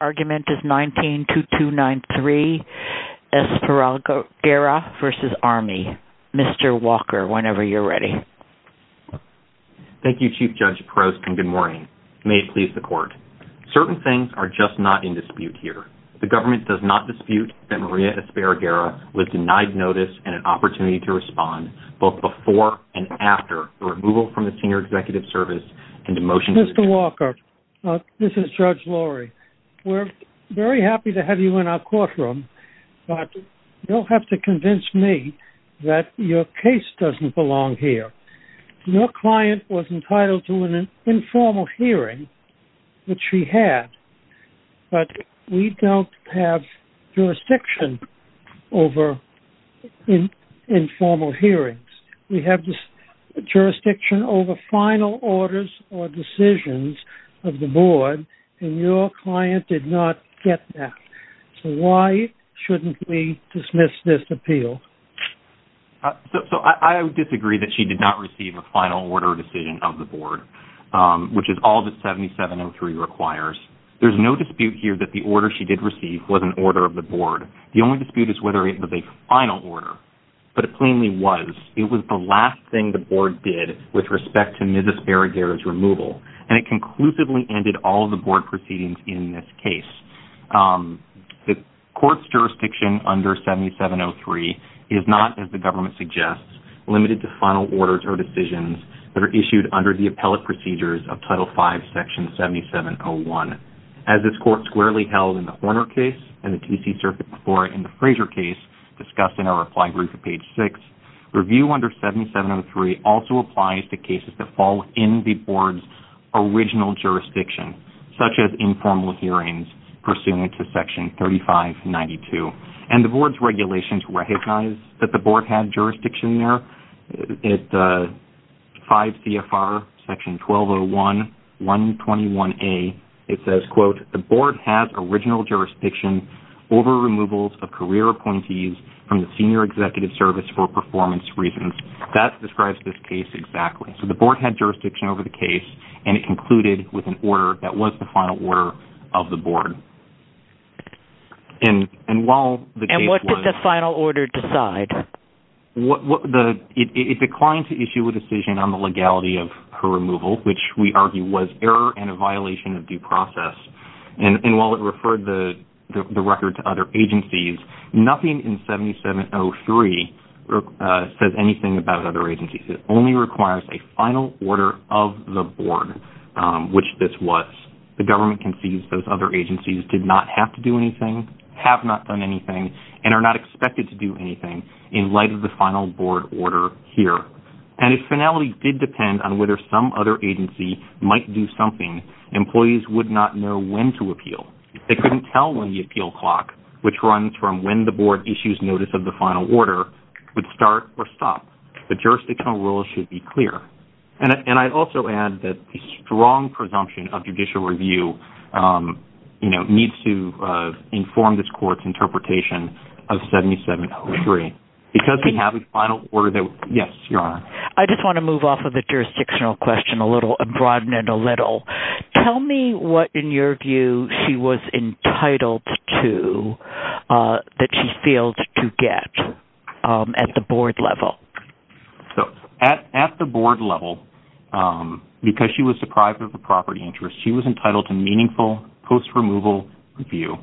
Argument is 192293 Esparraguera v. Army. Mr. Walker whenever you're ready. Thank you Chief Judge Paros and good morning. May it please the court. Certain things are just not in dispute here. The government does not dispute that Maria Esparraguera was denied notice and an opportunity to respond both before and after the removal from the Senior Executive Service and the motion. Mr. Walker we're very happy to have you in our courtroom but you'll have to convince me that your case doesn't belong here. Your client was entitled to an informal hearing which she had but we don't have jurisdiction over informal hearings. We have this jurisdiction over final orders or decisions of the board and your client did not get that. So why shouldn't we dismiss this appeal? So I would disagree that she did not receive a final order decision of the board which is all that 7703 requires. There's no dispute here that the order she did receive was an order of the board. The only dispute is whether it was a final order but it plainly was. It was the last thing the board did with respect to Mrs. Esparraguera's removal and it conclusively ended all the board proceedings in this case. The court's jurisdiction under 7703 is not, as the government suggests, limited to final orders or decisions that are issued under the appellate procedures of Title 5 Section 7701. As this court squarely held in the Horner case and the TC Circuit before in the Frazier case discussed in our reply brief at page 6, review under 7703 also applies to cases that fall in the board's original jurisdiction such as informal hearings pursuant to Section 3592. And the board's regulations recognize that the board had jurisdiction there. At 5 CFR Section 1201, 121A, it says, quote, the board has original jurisdiction over removals of career appointees from the senior executive service for performance reasons. That describes this case exactly. So the board had jurisdiction over the case and it concluded with an order that was the final order of the board. And while the case was... And what did the final order decide? It declined to issue a decision on the legality of her removal, which we argue was error and a violation of due process. And while it referred the record to other agencies, nothing in 7703 says anything about other agencies' final order of the board, which this was. The government concedes those other agencies did not have to do anything, have not done anything, and are not expected to do anything in light of the final board order here. And if finality did depend on whether some other agency might do something, employees would not know when to appeal. They couldn't tell when the appeal clock, which runs from when the board issues notice of the final order, would start or stop. The jurisdictional rules should be clear. And I'd also add that the strong presumption of judicial review needs to inform this court's interpretation of 7703. Because we have a final order that... Yes, Your Honor. I just want to move off of the jurisdictional question a little, and broaden it a little. Tell me what, in your view, she was entitled to, that she failed to get at the board level. At the board level, because she was deprived of the property interest, she was entitled to meaningful post-removal review.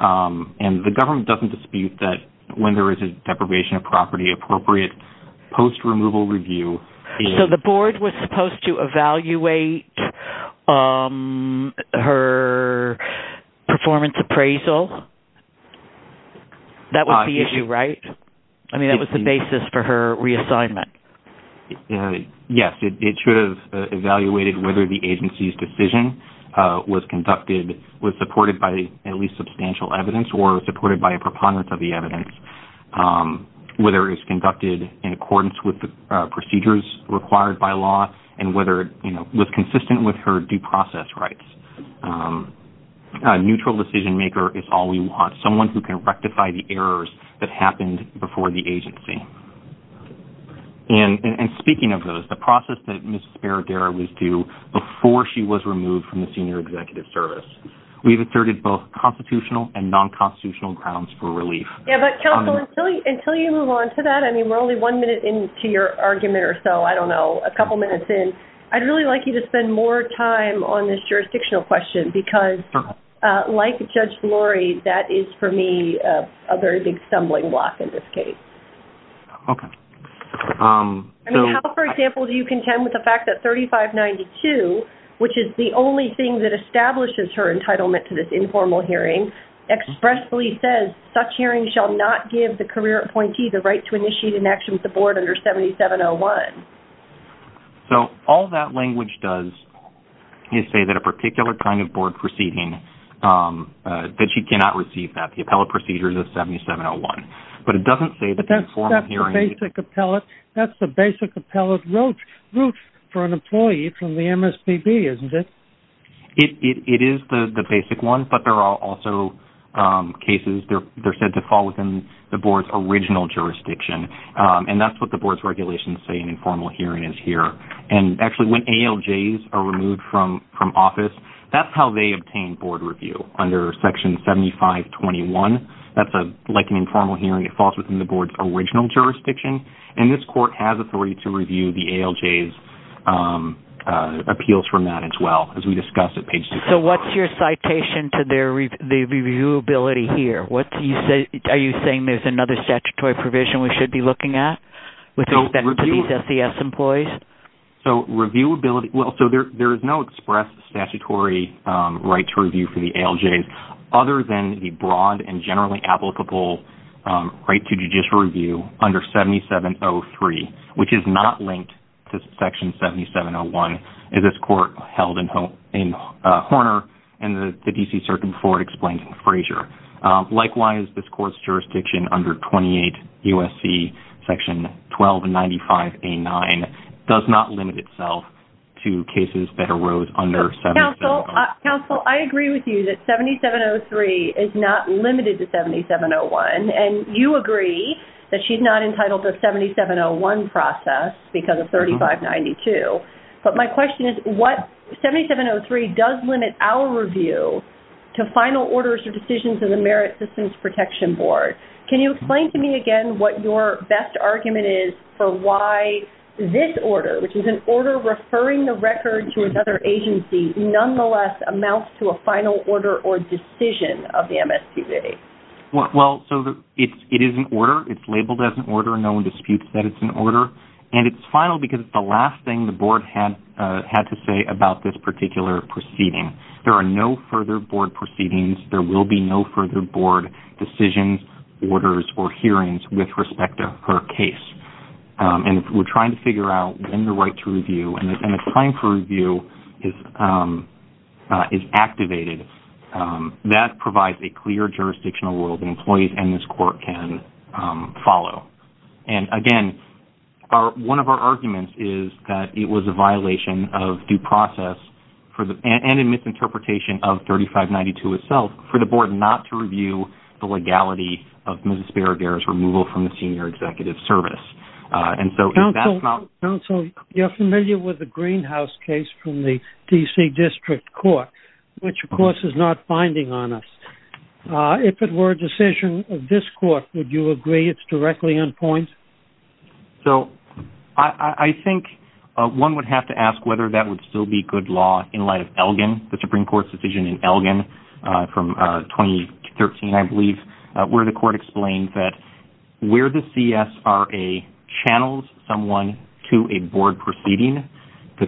And the government doesn't dispute that when there is a deprivation of property, appropriate post-removal review... So the board was supposed to That was the issue, right? I mean, that was the basis for her reassignment. Yes, it should have evaluated whether the agency's decision was conducted, was supported by at least substantial evidence, or supported by a preponderance of the evidence. Whether it was conducted in accordance with the procedures required by law, and whether, you know, was consistent with her due process rights. A neutral decision maker is all we want. Someone who can rectify the errors that happened before the agency. And speaking of those, the process that Ms. Sparadero was due before she was removed from the senior executive service. We've asserted both constitutional and non-constitutional grounds for relief. Yeah, but counsel, until you move on to that, I mean, we're only one minute into your argument or so, I don't know, a couple minutes in. I'd really like you to spend more time on this jurisdictional question, because like Judge Flory, that is, for me, a very big stumbling block in this case. Okay. How, for example, do you contend with the fact that 3592, which is the only thing that establishes her entitlement to this informal hearing, expressly says, such hearing shall not give the career appointee the right to initiate an action with the board under 7701? So, all that language does is say that a particular kind of board proceeding, that she cannot receive that. The appellate procedure is a 7701. But it doesn't say that... That's the basic appellate route for an employee from the MSPB, isn't it? It is the basic one, but there are also cases, they're said to fall within the board's original jurisdiction. And that's what the board's regulations say an informal hearing is here. And actually, when ALJs are removed from office, that's how they obtain board review, under section 7521. That's a, like an informal hearing, it falls within the board's original jurisdiction. And this court has authority to review the ALJs appeals from that as well, as we discussed at page 6. So, what's your citation to their reviewability here? What do you say, are you saying there's another statutory provision we should be looking at with respect to these SES employees? So, reviewability, well, so there is no express statutory right to review for the ALJs, other than the broad and generally applicable right to judicial review under 7703, which is not linked to section 7701, as this court held in Horner and the DC Circuit before it explained in Frazier. Likewise, this USC section 1295A9 does not limit itself to cases that arose under 7703. Counsel, I agree with you that 7703 is not limited to 7701. And you agree that she's not entitled to a 7701 process because of 3592. But my question is, what 7703 does limit our review to final orders or decisions of the Merit Systems Protection Board? Can you explain to me again what your best argument is for why this order, which is an order referring the record to another agency, nonetheless amounts to a final order or decision of the MSPB? Well, so it is an order, it's labeled as an order, no one disputes that it's an order. And it's final because it's the last thing the board had to say about this particular proceeding. There are no further board proceedings, there will be no further board decisions, orders, or hearings with respect to her case. And we're trying to figure out when the right to review and the time for review is activated. That provides a clear jurisdictional world that employees and this court can follow. And again, one of our arguments is that it was a violation of due process and a misinterpretation of 3592 itself for the board not to review the legality of Mrs. Barragher's removal from the senior executive service. And so if that's not... Counselor, you're familiar with the Greenhouse case from the DC District Court, which of course is not binding on us. If it were a decision of this court, would you agree it's directly on point? So I think one would have to ask whether that would still be good law in light of the Supreme Court's decision in Elgin from 2013, I believe, where the court explained that where the CSRA channels someone to a board proceeding, that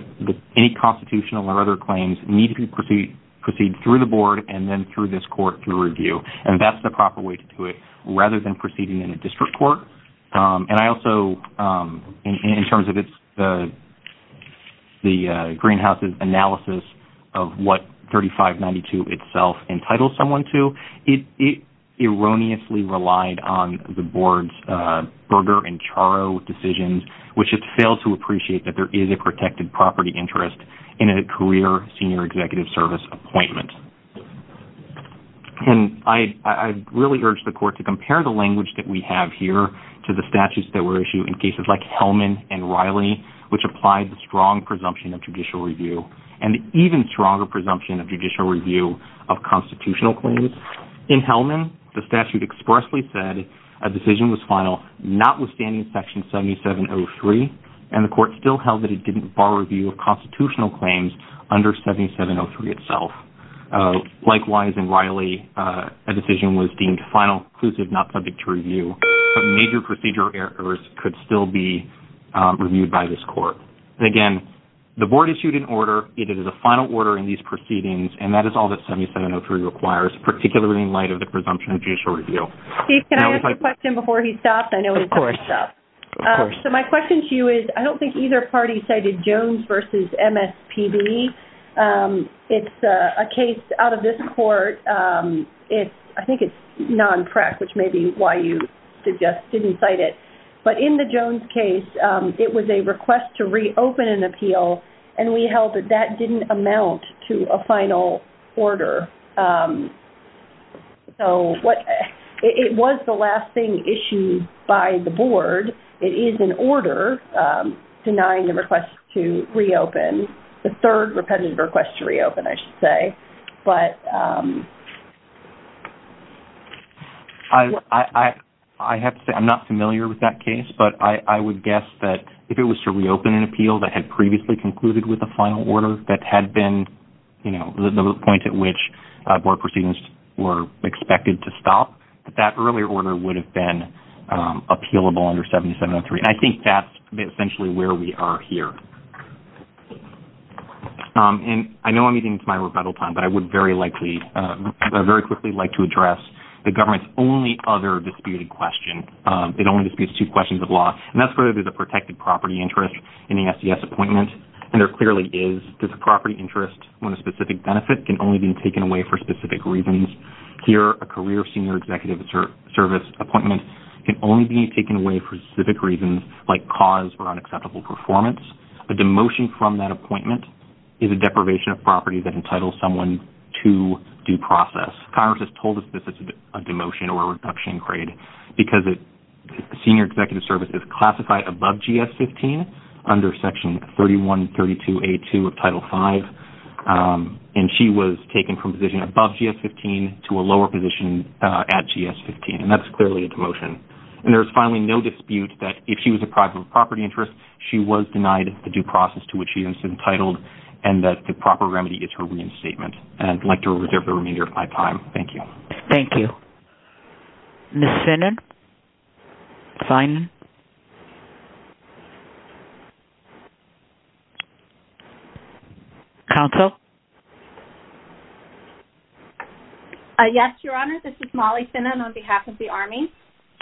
any constitutional or other claims need to proceed through the board and then through this court to review. And that's the proper way to do it rather than proceeding in a district court. And I also, in terms of the Greenhouse's of what 3592 itself entitled someone to, it erroneously relied on the board's Berger and Charo decisions, which it failed to appreciate that there is a protected property interest in a career senior executive service appointment. And I really urge the court to compare the language that we have here to the statutes that were issued in cases like Hellman and Riley, which applied the presumption of judicial review and even stronger presumption of judicial review of constitutional claims. In Hellman, the statute expressly said a decision was final notwithstanding section 7703, and the court still held that it didn't bar review of constitutional claims under 7703 itself. Likewise, in Riley, a decision was deemed final, inclusive, not subject to review, but major procedure errors could still be reviewed by this court. And again, the board issued an order, it is a final order in these proceedings, and that is all that 7703 requires, particularly in light of the presumption of judicial review. Steve, can I ask you a question before he stops? I know he's talking stuff. Of course. So my question to you is, I don't think either party cited Jones versus MSPB. It's a case out of this court, it's, I think it's non-PREC, which may be why you suggest didn't cite it. But in the Jones case, it was a request to reopen an appeal, and we held that that didn't amount to a final order. So what, it was the last thing issued by the board. It is an order denying the request to reopen, the third repetitive request to reopen, I should say. But... I have to say, I'm not familiar with that case, but I would guess that if it was to reopen an appeal that had previously concluded with a final order that had been, you know, the point at which board proceedings were expected to stop, that that earlier order would have been appealable under 7703. And I think that's essentially where we are here. And I know I'm using my rebuttal time, but I would very likely, very quickly like to address the government's only other disputed question. It only disputes two questions of law. And that's whether there's a protected property interest in the SES appointment, and there clearly is. There's a property interest when a specific benefit can only be taken away for specific reasons. Here, a career senior executive service appointment can only be taken away for specific reasons like cause or unacceptable performance. A demotion from that appointment is a deprivation of property that entitles someone to due process. Congress has told us this is a demotion or a reduction in grade because a senior executive service is classified above GS-15 under Section 3132A2 of Title 5, and she was taken from position above GS-15 to a lower position at GS-15. And that's clearly a demotion. And there's finally no dispute that if she was deprived of a property interest, she was denied the due process to which she has been entitled, and that the proper remedy is her reinstatement. And I'd like to reserve the remainder of my time. Thank you. Thank you. Ms. Finan? Finan? Counsel? Yes, Your Honor. This is Molly Finan on behalf of the Army.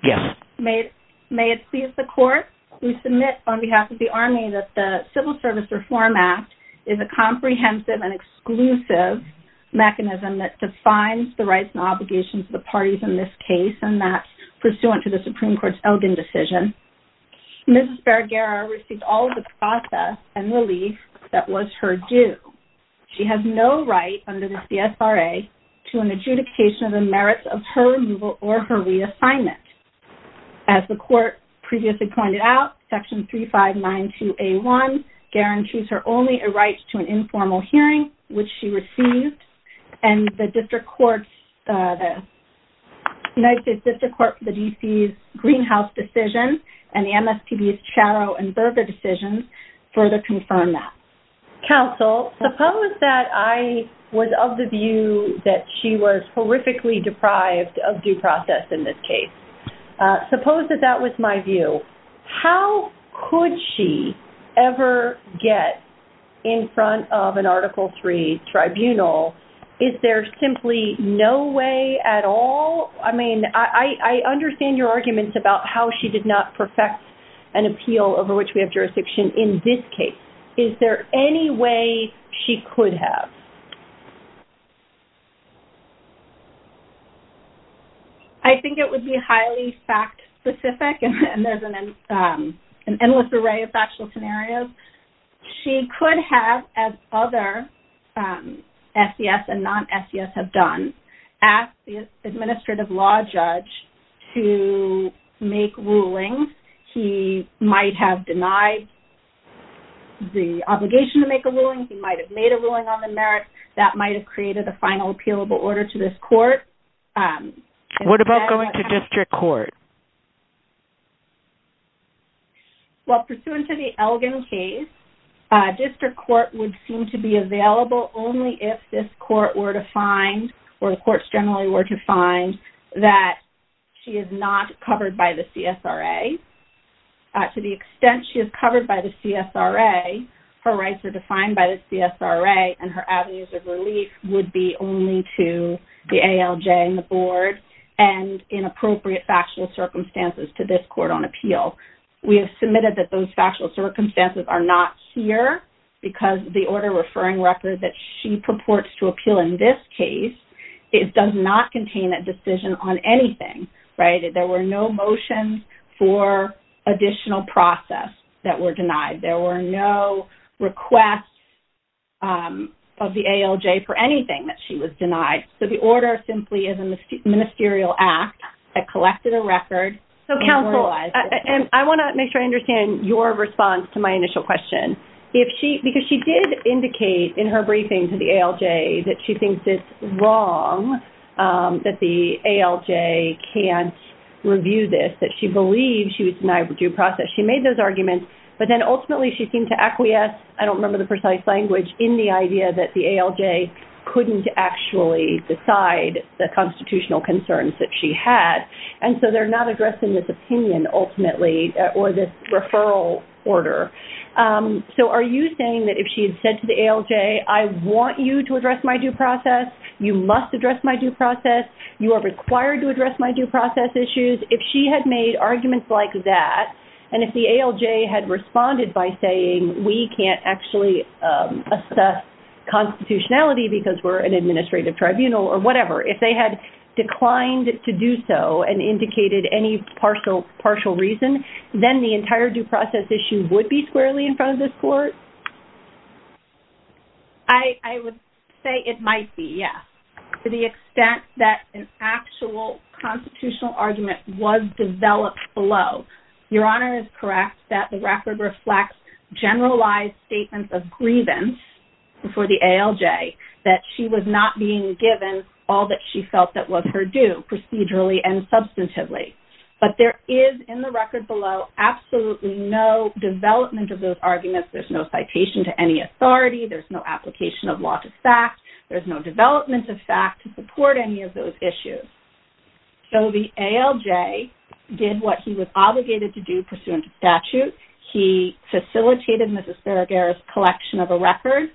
Yes. May it please the Court. We submit on behalf of the Army that the Civil Service Reform Act is a comprehensive and exclusive mechanism that defines the rights and obligations of the parties in this case, and that pursuant to the Supreme Court's Elgin decision, Mrs. Barragara received all of the process and relief that was her due. She has no right under the CSRA to an adjudication of the merits of her removal or her reassignment. As the Court previously pointed out, Section 3592A1 guarantees her only a right to an informal hearing, which she received, and the United States District Court for the D.C.'s Greenhouse decision and the MSPB's Charro and Berger decisions further confirm that. Counsel, suppose that I was of the view that she was horrifically deprived of due process in this case. Suppose that that was my view. How could she ever get in front of an attorney? Is there simply no way at all? I mean, I understand your arguments about how she did not perfect an appeal over which we have jurisdiction in this case. Is there any way she could have? I think it would be highly fact-specific, and there's an endless array of factual scenarios. She could have, as other SES and non-SES have done, asked the administrative law judge to make rulings. He might have denied the obligation to make a ruling. He might have made a ruling on the merits that might have created a final appealable order to this court. What about going to While pursuant to the Elgin case, district court would seem to be available only if this court were to find, or the courts generally were to find, that she is not covered by the CSRA. To the extent she is covered by the CSRA, her rights are defined by the CSRA, and her avenues of relief would be only to the ALJ and the board and in appropriate factual circumstances to this court on appeal. We have submitted that those factual circumstances are not here because the order referring records that she purports to appeal in this case, it does not contain that decision on anything, right? There were no motions for additional process that were denied. There were no requests of the ALJ for anything that she was denied. So the order simply is a ministerial act that I understand your response to my initial question. Because she did indicate in her briefing to the ALJ that she thinks it's wrong that the ALJ can't review this, that she believes she was denied due process. She made those arguments, but then ultimately she seemed to acquiesce, I don't remember the precise language, in the idea that the ALJ couldn't actually decide the constitutional concerns that she had. And so they're not addressing this opinion ultimately or this referral order. So are you saying that if she had said to the ALJ, I want you to address my due process, you must address my due process, you are required to address my due process issues, if she had made arguments like that, and if the ALJ had responded by saying we can't actually assess constitutionality because we're an administrative tribunal or whatever, if they had declined to do so and indicated any partial reason, then the entire due process issue would be squarely in front of this court? I would say it might be, yes, to the extent that an actual constitutional argument was developed below. Your Honor is correct that the record reflects generalized statements of grievance before the ALJ that she was not being given all that she felt that was her due, procedurally and substantively. But there is in the record below absolutely no development of those arguments, there's no citation to any authority, there's no application of law to fact, there's no development of fact to support any of those issues. So the ALJ did what he was obligated to do pursuant to statute, he facilitated Mrs. Serager's collection of a record,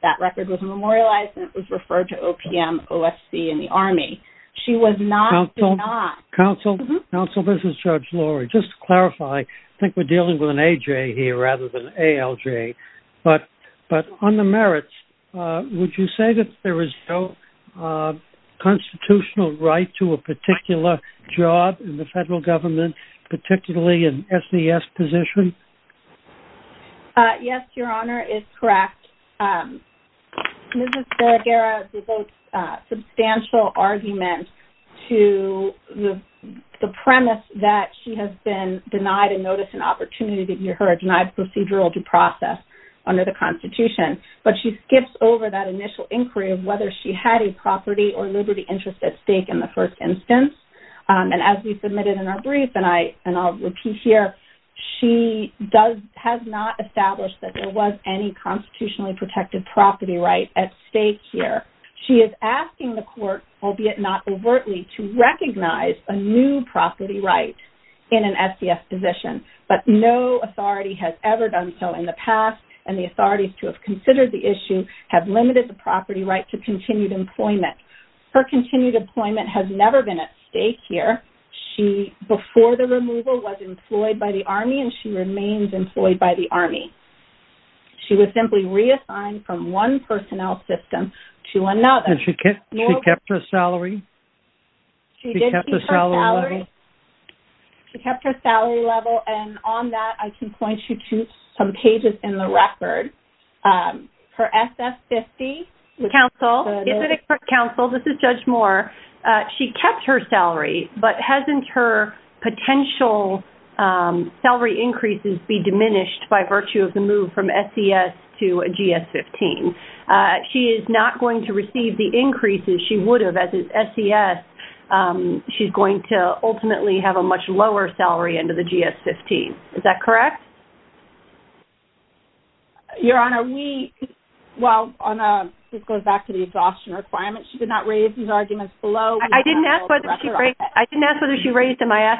that she was not... Counsel, this is Judge Laurie, just to clarify, I think we're dealing with an AJ here rather than ALJ, but on the merits, would you say that there is no constitutional right to a particular job in the federal government, particularly an SES position? Yes, Your Honor is correct. Mrs. Serager has no argument to the premise that she has been denied a notice and opportunity to hear her denied procedural due process under the Constitution, but she skips over that initial inquiry of whether she had a property or liberty interest at stake in the first instance. And as we submitted in our brief, and I and I'll repeat here, she has not established that there was any constitutionally protected property right at stake here. She is asking the state, albeit not overtly, to recognize a new property right in an SES position, but no authority has ever done so in the past, and the authorities to have considered the issue have limited the property right to continued employment. Her continued employment has never been at stake here. She, before the removal, was employed by the Army and she remains employed by the Army. She was simply reassigned from one personnel system to another. And she kept her salary? She did keep her salary. She kept her salary level, and on that I can point you to some pages in the record. Her SS-50. Counsel, this is Judge Moore. She kept her salary, but hasn't her potential salary increases be diminished by virtue of the move from SES to GS-15. She is not going to receive the increases she would have as an SES. She's going to ultimately have a much lower salary under the GS-15. Is that correct? Your Honor, we, well, this goes back to the exhaustion requirements. She did not raise these arguments below. I didn't ask whether she raised them. I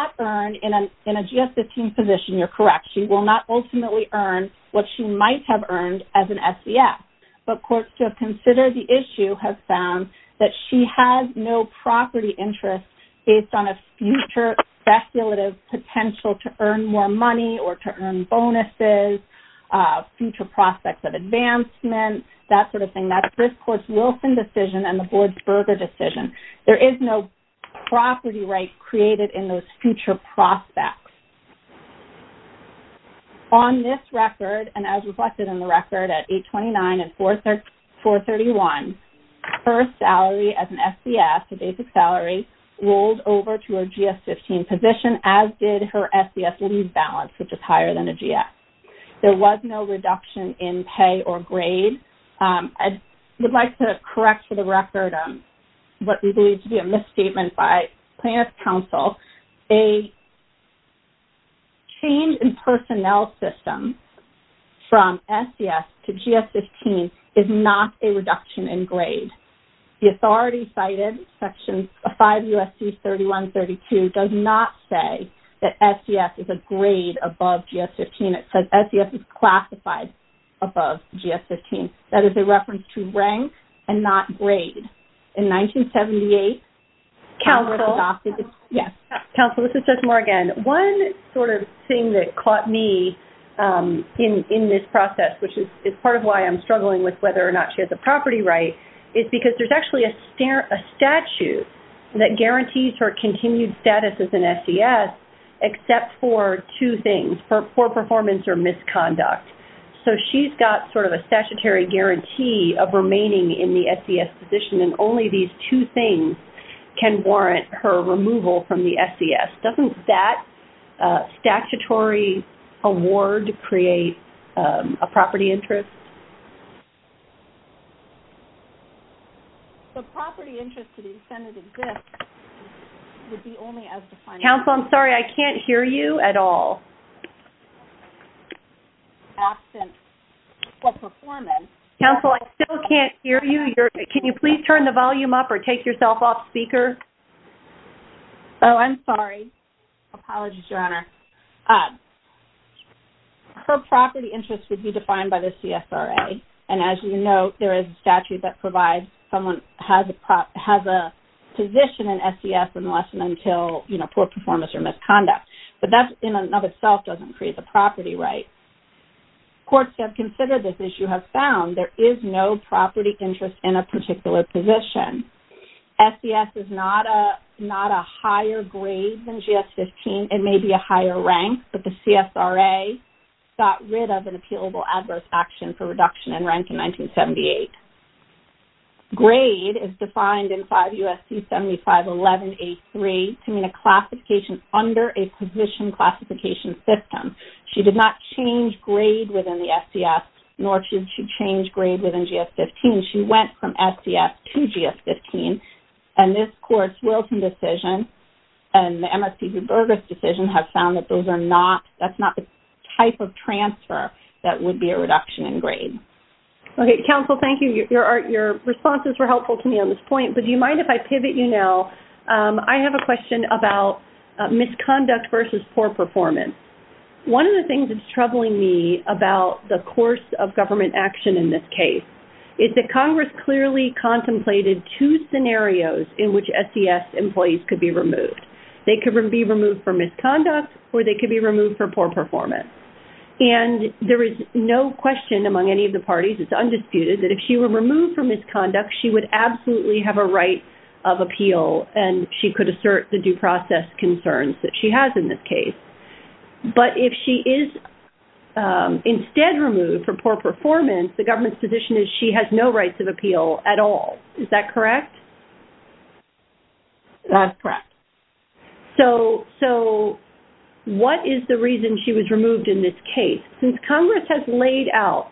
in a GS-15 position, you're correct. She will not ultimately earn what she might have earned as an SES. But courts to have considered the issue have found that she has no property interest based on a future speculative potential to earn more money or to earn bonuses, future prospects of advancement, that sort of thing. That's this court's Wilson decision and the board's Berger decision. There is no property right created in those future prospects. On this record and as reflected in the record at 829 and 431, her salary as an SES, her basic salary, rolled over to a GS-15 position as did her SES leave balance, which is higher than a GS. There was no reduction in pay or grade. I would like to correct for the statement by Plaintiff's Counsel, a change in personnel system from SES to GS-15 is not a reduction in grade. The authority cited section 5 U.S.C. 3132 does not say that SES is a grade above GS-15. It says SES is classified above GS-15. That is a Council, this is Jess Moore again. One sort of thing that caught me in this process, which is part of why I'm struggling with whether or not she has a property right, is because there's actually a statute that guarantees her continued status as an SES except for two things, for poor performance or misconduct. So she's got sort of a statutory guarantee of remaining in the two things can warrant her removal from the SES. Doesn't that statutory award create a property interest? Counsel, I'm sorry I can't hear you at all. Counsel, I still can't hear you. Can you please turn the volume up or take yourself off speaker? Oh, I'm sorry. Apologies, Your Honor. Her property interest would be defined by the CSRA and as you know there is a statute that provides someone has a position in SES unless and until, you know, poor performance or misconduct. But that in and of itself doesn't create the courts have considered this issue have found there is no property interest in a particular position. SES is not a higher grade than GS-15. It may be a higher rank, but the CSRA got rid of an appealable adverse action for reduction in rank in 1978. Grade is defined in 5 U.S.C. 7511-83 to mean a classification under a position classification system. She did not change grade within the SES nor should she change grade within GS-15. She went from SES to GS-15 and this court's Wilson decision and the MSPB Berger's decision have found that those are not that's not the type of transfer that would be a reduction in grade. Okay, Counsel, thank you. Your responses were helpful to me on this point, but do you have a question about misconduct versus poor performance? One of the things that's troubling me about the course of government action in this case is that Congress clearly contemplated two scenarios in which SES employees could be removed. They could be removed for misconduct or they could be removed for poor performance. And there is no question among any of the parties, it's undisputed, that if she were removed for misconduct she would absolutely have a right of appeal and she could assert the due process concerns that she has in this case. But if she is instead removed for poor performance, the government's position is she has no rights of appeal at all. Is that correct? That's correct. So what is the reason she was removed in this case? Since Congress has laid out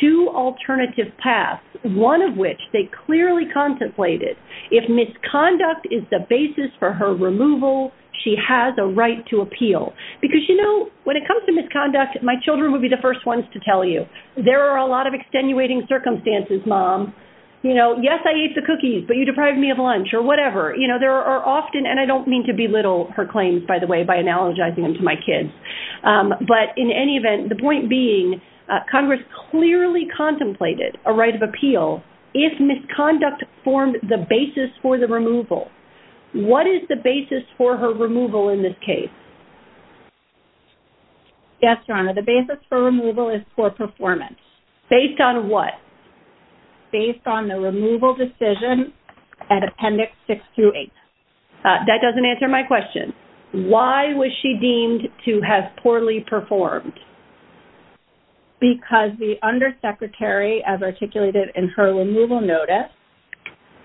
two alternative paths, one of which they clearly contemplated, if misconduct is the basis for her removal, she has a right to appeal. Because, you know, when it comes to misconduct, my children would be the first ones to tell you, there are a lot of extenuating circumstances, Mom. You know, yes, I ate the cookies, but you deprived me of lunch or whatever. You know, there are often, and I don't mean to belittle her claims, by the way, by analogizing them to my kids, but in any point being, Congress clearly contemplated a right of appeal if misconduct formed the basis for the removal. What is the basis for her removal in this case? Yes, Your Honor, the basis for removal is poor performance. Based on what? Based on the removal decision at Appendix 6 through 8. That doesn't answer my question. Why was she deemed to have poorly performed? Because the Undersecretary, as articulated in her removal notice,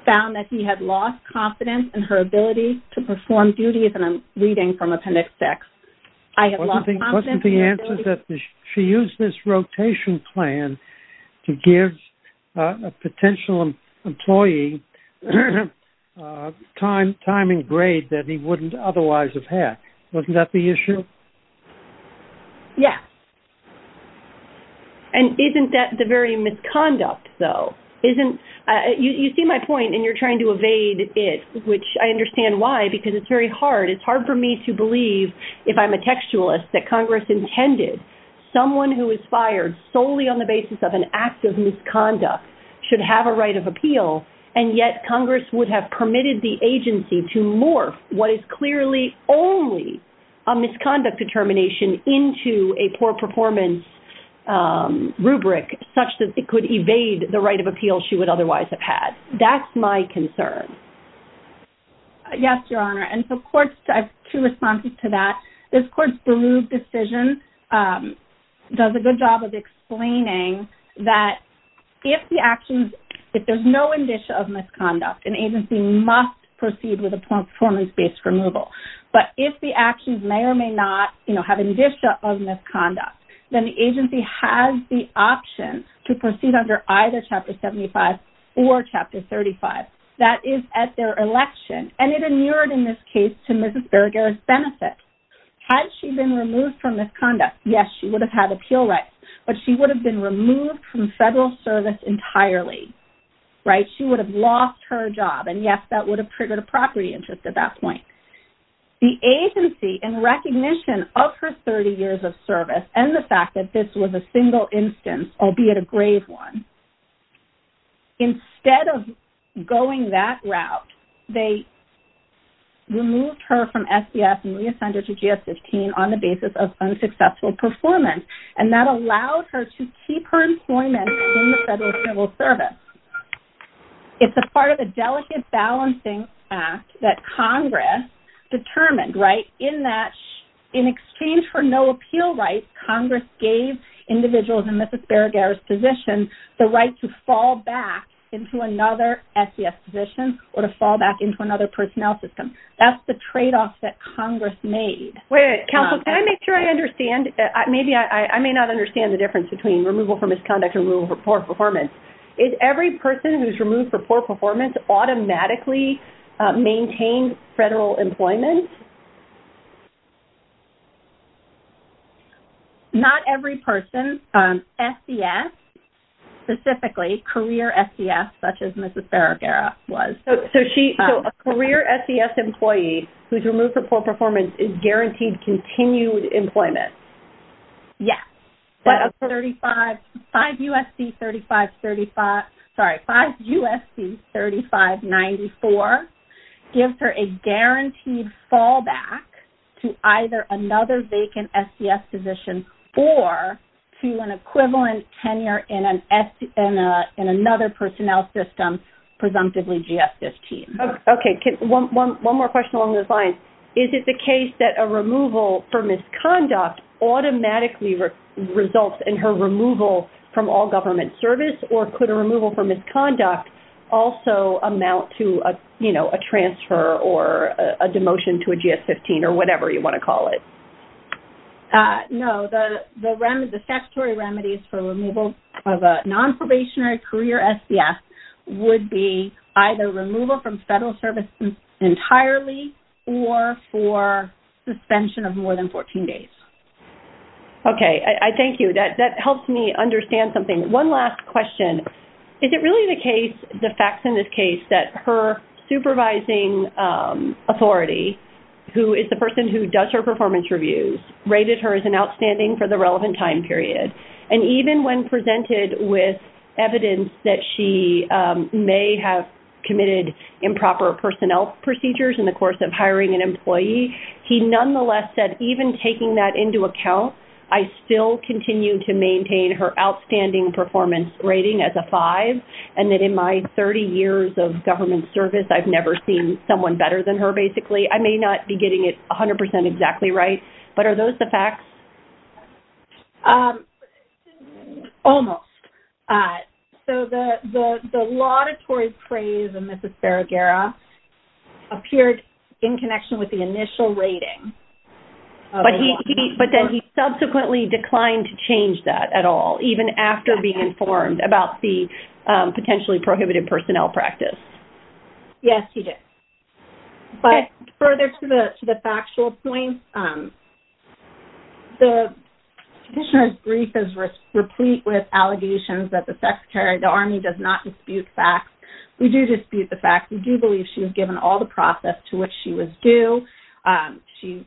found that he had lost confidence in her ability to perform duties, and I'm reading from Appendix 6, I have lost confidence in her ability... What's the answer? She used this rotation plan to give a that he wouldn't otherwise have had. Wasn't that the issue? Yeah, and isn't that the very misconduct, though? You see my point, and you're trying to evade it, which I understand why, because it's very hard. It's hard for me to believe, if I'm a textualist, that Congress intended someone who is fired solely on the basis of an act of misconduct should have a right of appeal, and yet Congress would have permitted the agency to morph what is clearly only a misconduct determination into a poor performance rubric, such that it could evade the right of appeal she would otherwise have had. That's my concern. Yes, Your Honor, and so courts... I have two responses to that. This court's Baruch decision does a good job of explaining that if the actions... if there's no indicia of misconduct, an agency must proceed with a performance-based removal, but if the actions may or may not, you know, have indicia of misconduct, then the agency has the option to proceed under either Chapter 75 or Chapter 35. That is at their election, and it inured, in this case, to Mrs. Berger's benefit. Had she been removed from misconduct, yes, she would have had appeal rights, but she would have been removed from federal service entirely, right? She would have lost her job, and yes, that would have triggered a property interest at that point. The agency, in recognition of her 30 years of service and the fact that this was a single instance, albeit a grave one, instead of going that route, they removed her from SDS and re-assigned her to GS-15 on the basis of unsuccessful performance, and that allowed her to keep her employment in federal civil service. It's a part of the Delicate Balancing Act that Congress determined, right? In that, in exchange for no appeal rights, Congress gave individuals in Mrs. Berger's position the right to fall back into another SDS position or to fall back into another personnel system. That's the trade-off that Congress made. Wait, counsel, can I make sure I understand? Maybe I may not understand the difference between removal for misconduct and removal for poor performance. Is every person who's removed for poor performance automatically maintained federal employment? Not every person. SDS, specifically career SDS, such as Mrs. Berger was. So a career SDS employee who's removed for poor performance is guaranteed continued employment? Yes. 5 U.S.C. 3594 gives her a guaranteed fallback to either another vacant SDS position or to an equivalent tenure in another personnel system, presumptively GS-15. Okay, one more question along those lines. Could a removal for misconduct automatically result in her removal from all government service or could a removal for misconduct also amount to a, you know, a transfer or a demotion to a GS-15 or whatever you want to call it? No, the statutory remedies for removal of a non-probationary career SDS would be either removal from federal service entirely or for suspension of more than 14 days. Okay, I thank you. That helps me understand something. One last question. Is it really the case, the facts in this case, that her supervising authority, who is the person who does her performance reviews, rated her as an outstanding for the relevant time period? And even when presented with evidence that she may have committed improper personnel procedures in the course of even taking that into account, I still continue to maintain her outstanding performance rating as a 5 and that in my 30 years of government service I've never seen someone better than her, basically. I may not be getting it 100% exactly right, but are those the facts? Almost. So the laudatory praise of But then he subsequently declined to change that at all, even after being informed about the potentially prohibited personnel practice. Yes, he did. But further to the factual point, the petitioner's brief is replete with allegations that the Secretary of the Army does not dispute facts. We do dispute the facts. We do believe she was given all the process to which she was due. She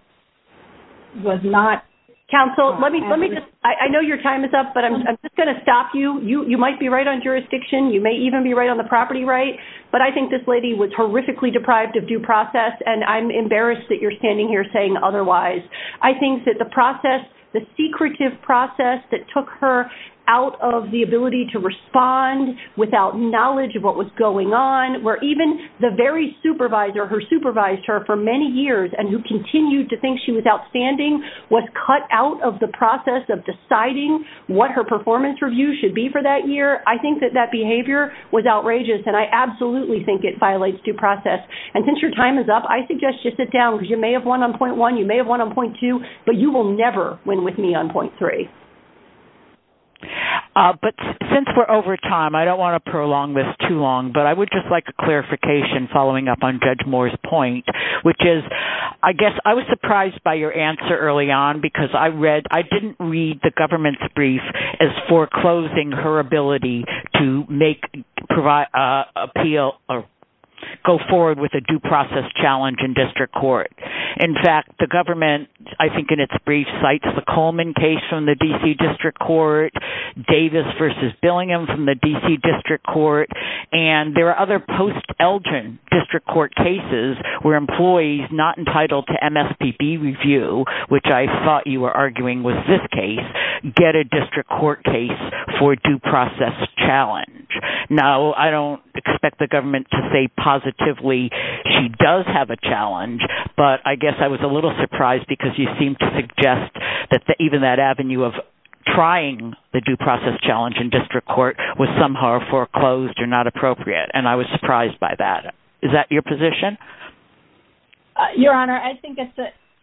was not. Counsel, let me just, I know your time is up, but I'm just going to stop you. You might be right on jurisdiction, you may even be right on the property right, but I think this lady was horrifically deprived of due process and I'm embarrassed that you're standing here saying otherwise. I think that the process, the secretive process that took her out of the ability to respond without knowledge of what was going on, where even the very supervisor who supervised her for many years and who continued to think she was outstanding was cut out of the process of deciding what her performance review should be for that year. I think that that behavior was outrageous and I absolutely think it violates due process. And since your time is up, I suggest you sit down because you may have won on point one, you may have won on point two, but you will never win with me on point three. But since we're over time, I don't want to prolong this too long, but I would just like a clarification following up on Judge Moore's point, which is, I guess I was surprised by your answer early on because I read, I didn't read the government's brief as foreclosing her ability to make, provide, appeal or go forward with a due process challenge in district court. In fact, the government, I think in its brief, cites the Coleman case from the DC District Court, Davis versus Billingham from the DC District Court, and there are other post-Elgin district court cases where employees not entitled to MSPB review, which I thought you were arguing was this case, get a district court case for due process challenge. Now, I don't expect the government to say positively she does have a challenge, but I guess I was a little surprised because you seem to suggest that even that avenue of trying the due process challenge in district court was somehow foreclosed or not appropriate, and I was surprised by that. Is that your position? Your Honor, I think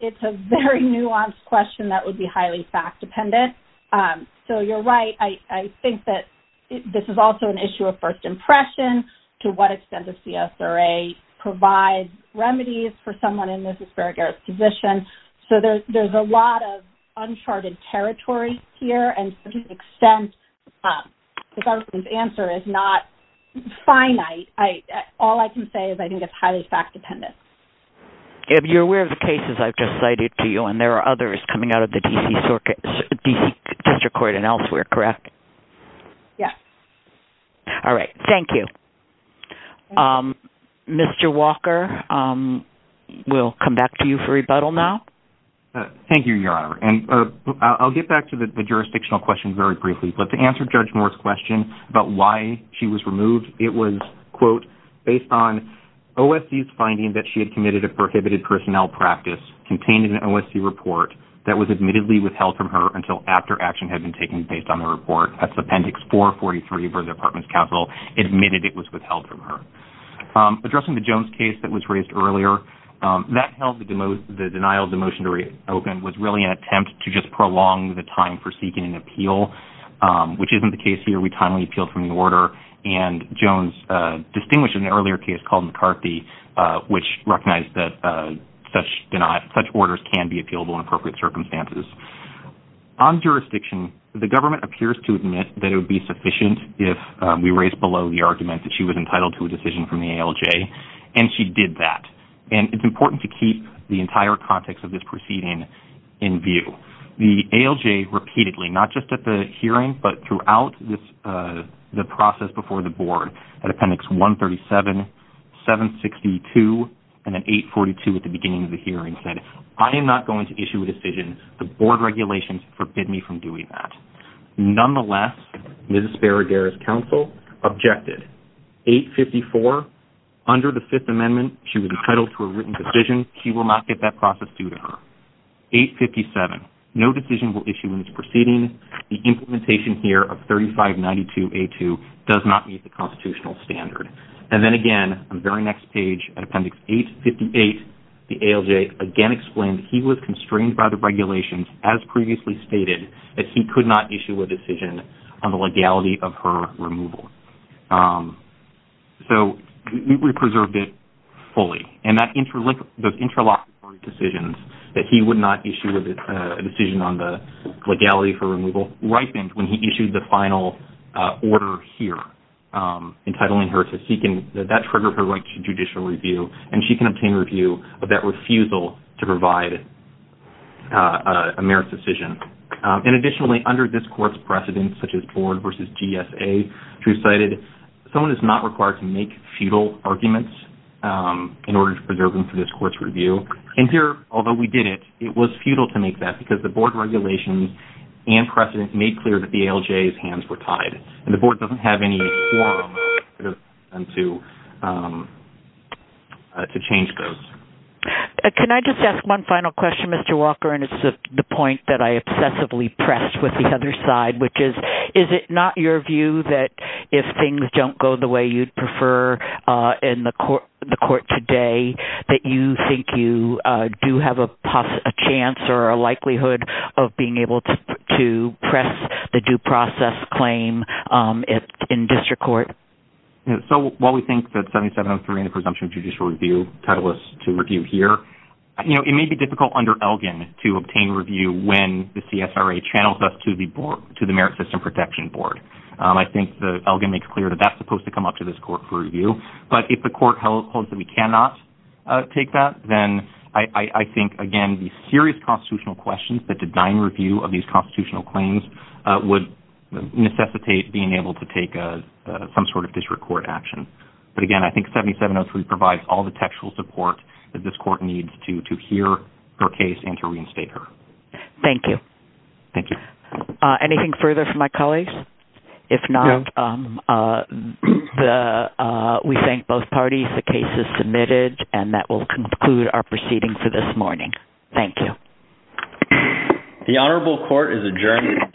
it's a very nuanced question that would be highly fact-dependent. So you're right, I think that this is also an issue of first impression to what extent the CSRA provides remedies for someone in Mrs. Farragher's position. So there's a lot of uncharted territory here, and to an extent the government's answer is not finite. All I can say is I think it's highly fact-dependent. If you're aware of the cases I've just cited to you, and there are others coming out of the DC District Court and elsewhere, correct? Yes. All right, thank you. Mr. Walker, we'll come back to you for rebuttal now. Thank you, Your Honor, and I'll get back to the jurisdictional question very briefly, but to answer Judge Moore's question about why she was removed, it was, quote, based on OSC's finding that she had committed a prohibited personnel practice contained in an OSC report that was admittedly withheld from her until after action had been taken based on the report. That's Appendix 443 for the Department's counsel admitted it was withheld from her. Addressing the Jones case that was raised earlier, that held the denial of the motion to reopen was really an attempt to just prolong the time for seeking an appeal, which isn't the case here. We timely appealed from the order, and Jones distinguished in the earlier case called McCarthy, which recognized that such orders can be appealable in appropriate circumstances. On jurisdiction, the government appears to admit that it would be sufficient if we raised below the argument that she was entitled to a decision from the ALJ, and she did that. And it's important to keep the entire context of this proceeding in view. The ALJ repeatedly, not just at the hearing, but throughout the process before the Board at Appendix 137, 762, and then 842 at the beginning of the hearing, said, I am NOT going to issue a decision. The Board regulations forbid me from doing that. Nonetheless, Mrs. Baraguer's counsel objected. 854, under the Fifth Amendment, she was entitled to a written decision. She will not get that process due to her. 857, no decision will issue in this proceeding. The implementation here of 3592A2 does not meet the constitutional standard. And then again, on the very next page, at Appendix 858, the ALJ again explained he was constrained by the that he would not issue a decision on the legality of her removal. So we preserved it fully. And that interlocked decisions, that he would not issue a decision on the legality for removal, ripened when he issued the final order here, entitling her to seek, and that triggered her right to judicial review, and she can obtain review of that refusal to provide a merit decision. And additionally, under this Court's precedents, such as Board versus GSA, which we cited, someone is not required to make futile arguments in order to preserve them for this Court's review. And here, although we did it, it was futile to make that, because the Board regulations and precedents made clear that the ALJ's hands were tied. And the Board doesn't have any forum to change those. Can I just ask one final question, Mr. Walker, and it's the point that I obsessively pressed with the other side, which is, is it not your view that if things don't go the way you'd prefer in the Court today, that you think you do have a chance or a likelihood of being able to press the due process claim in District Court? So while we think that 7703 in the presumption of judicial review, titleless to review here, you know, it may be difficult under Elgin to say that the CSRA channels us to the Merit System Protection Board. I think that Elgin makes clear that that's supposed to come up to this Court for review, but if the Court holds that we cannot take that, then I think, again, the serious constitutional questions that design review of these constitutional claims would necessitate being able to take some sort of District Court action. But again, I think 7703 provides all the textual support that this Court needs to hear her case and to reinstate her. Thank you. Thank you. Anything further for my colleagues? If not, we thank both parties. The case is submitted and that will conclude our proceeding for this morning. Thank you. The Honorable Court is adjourned.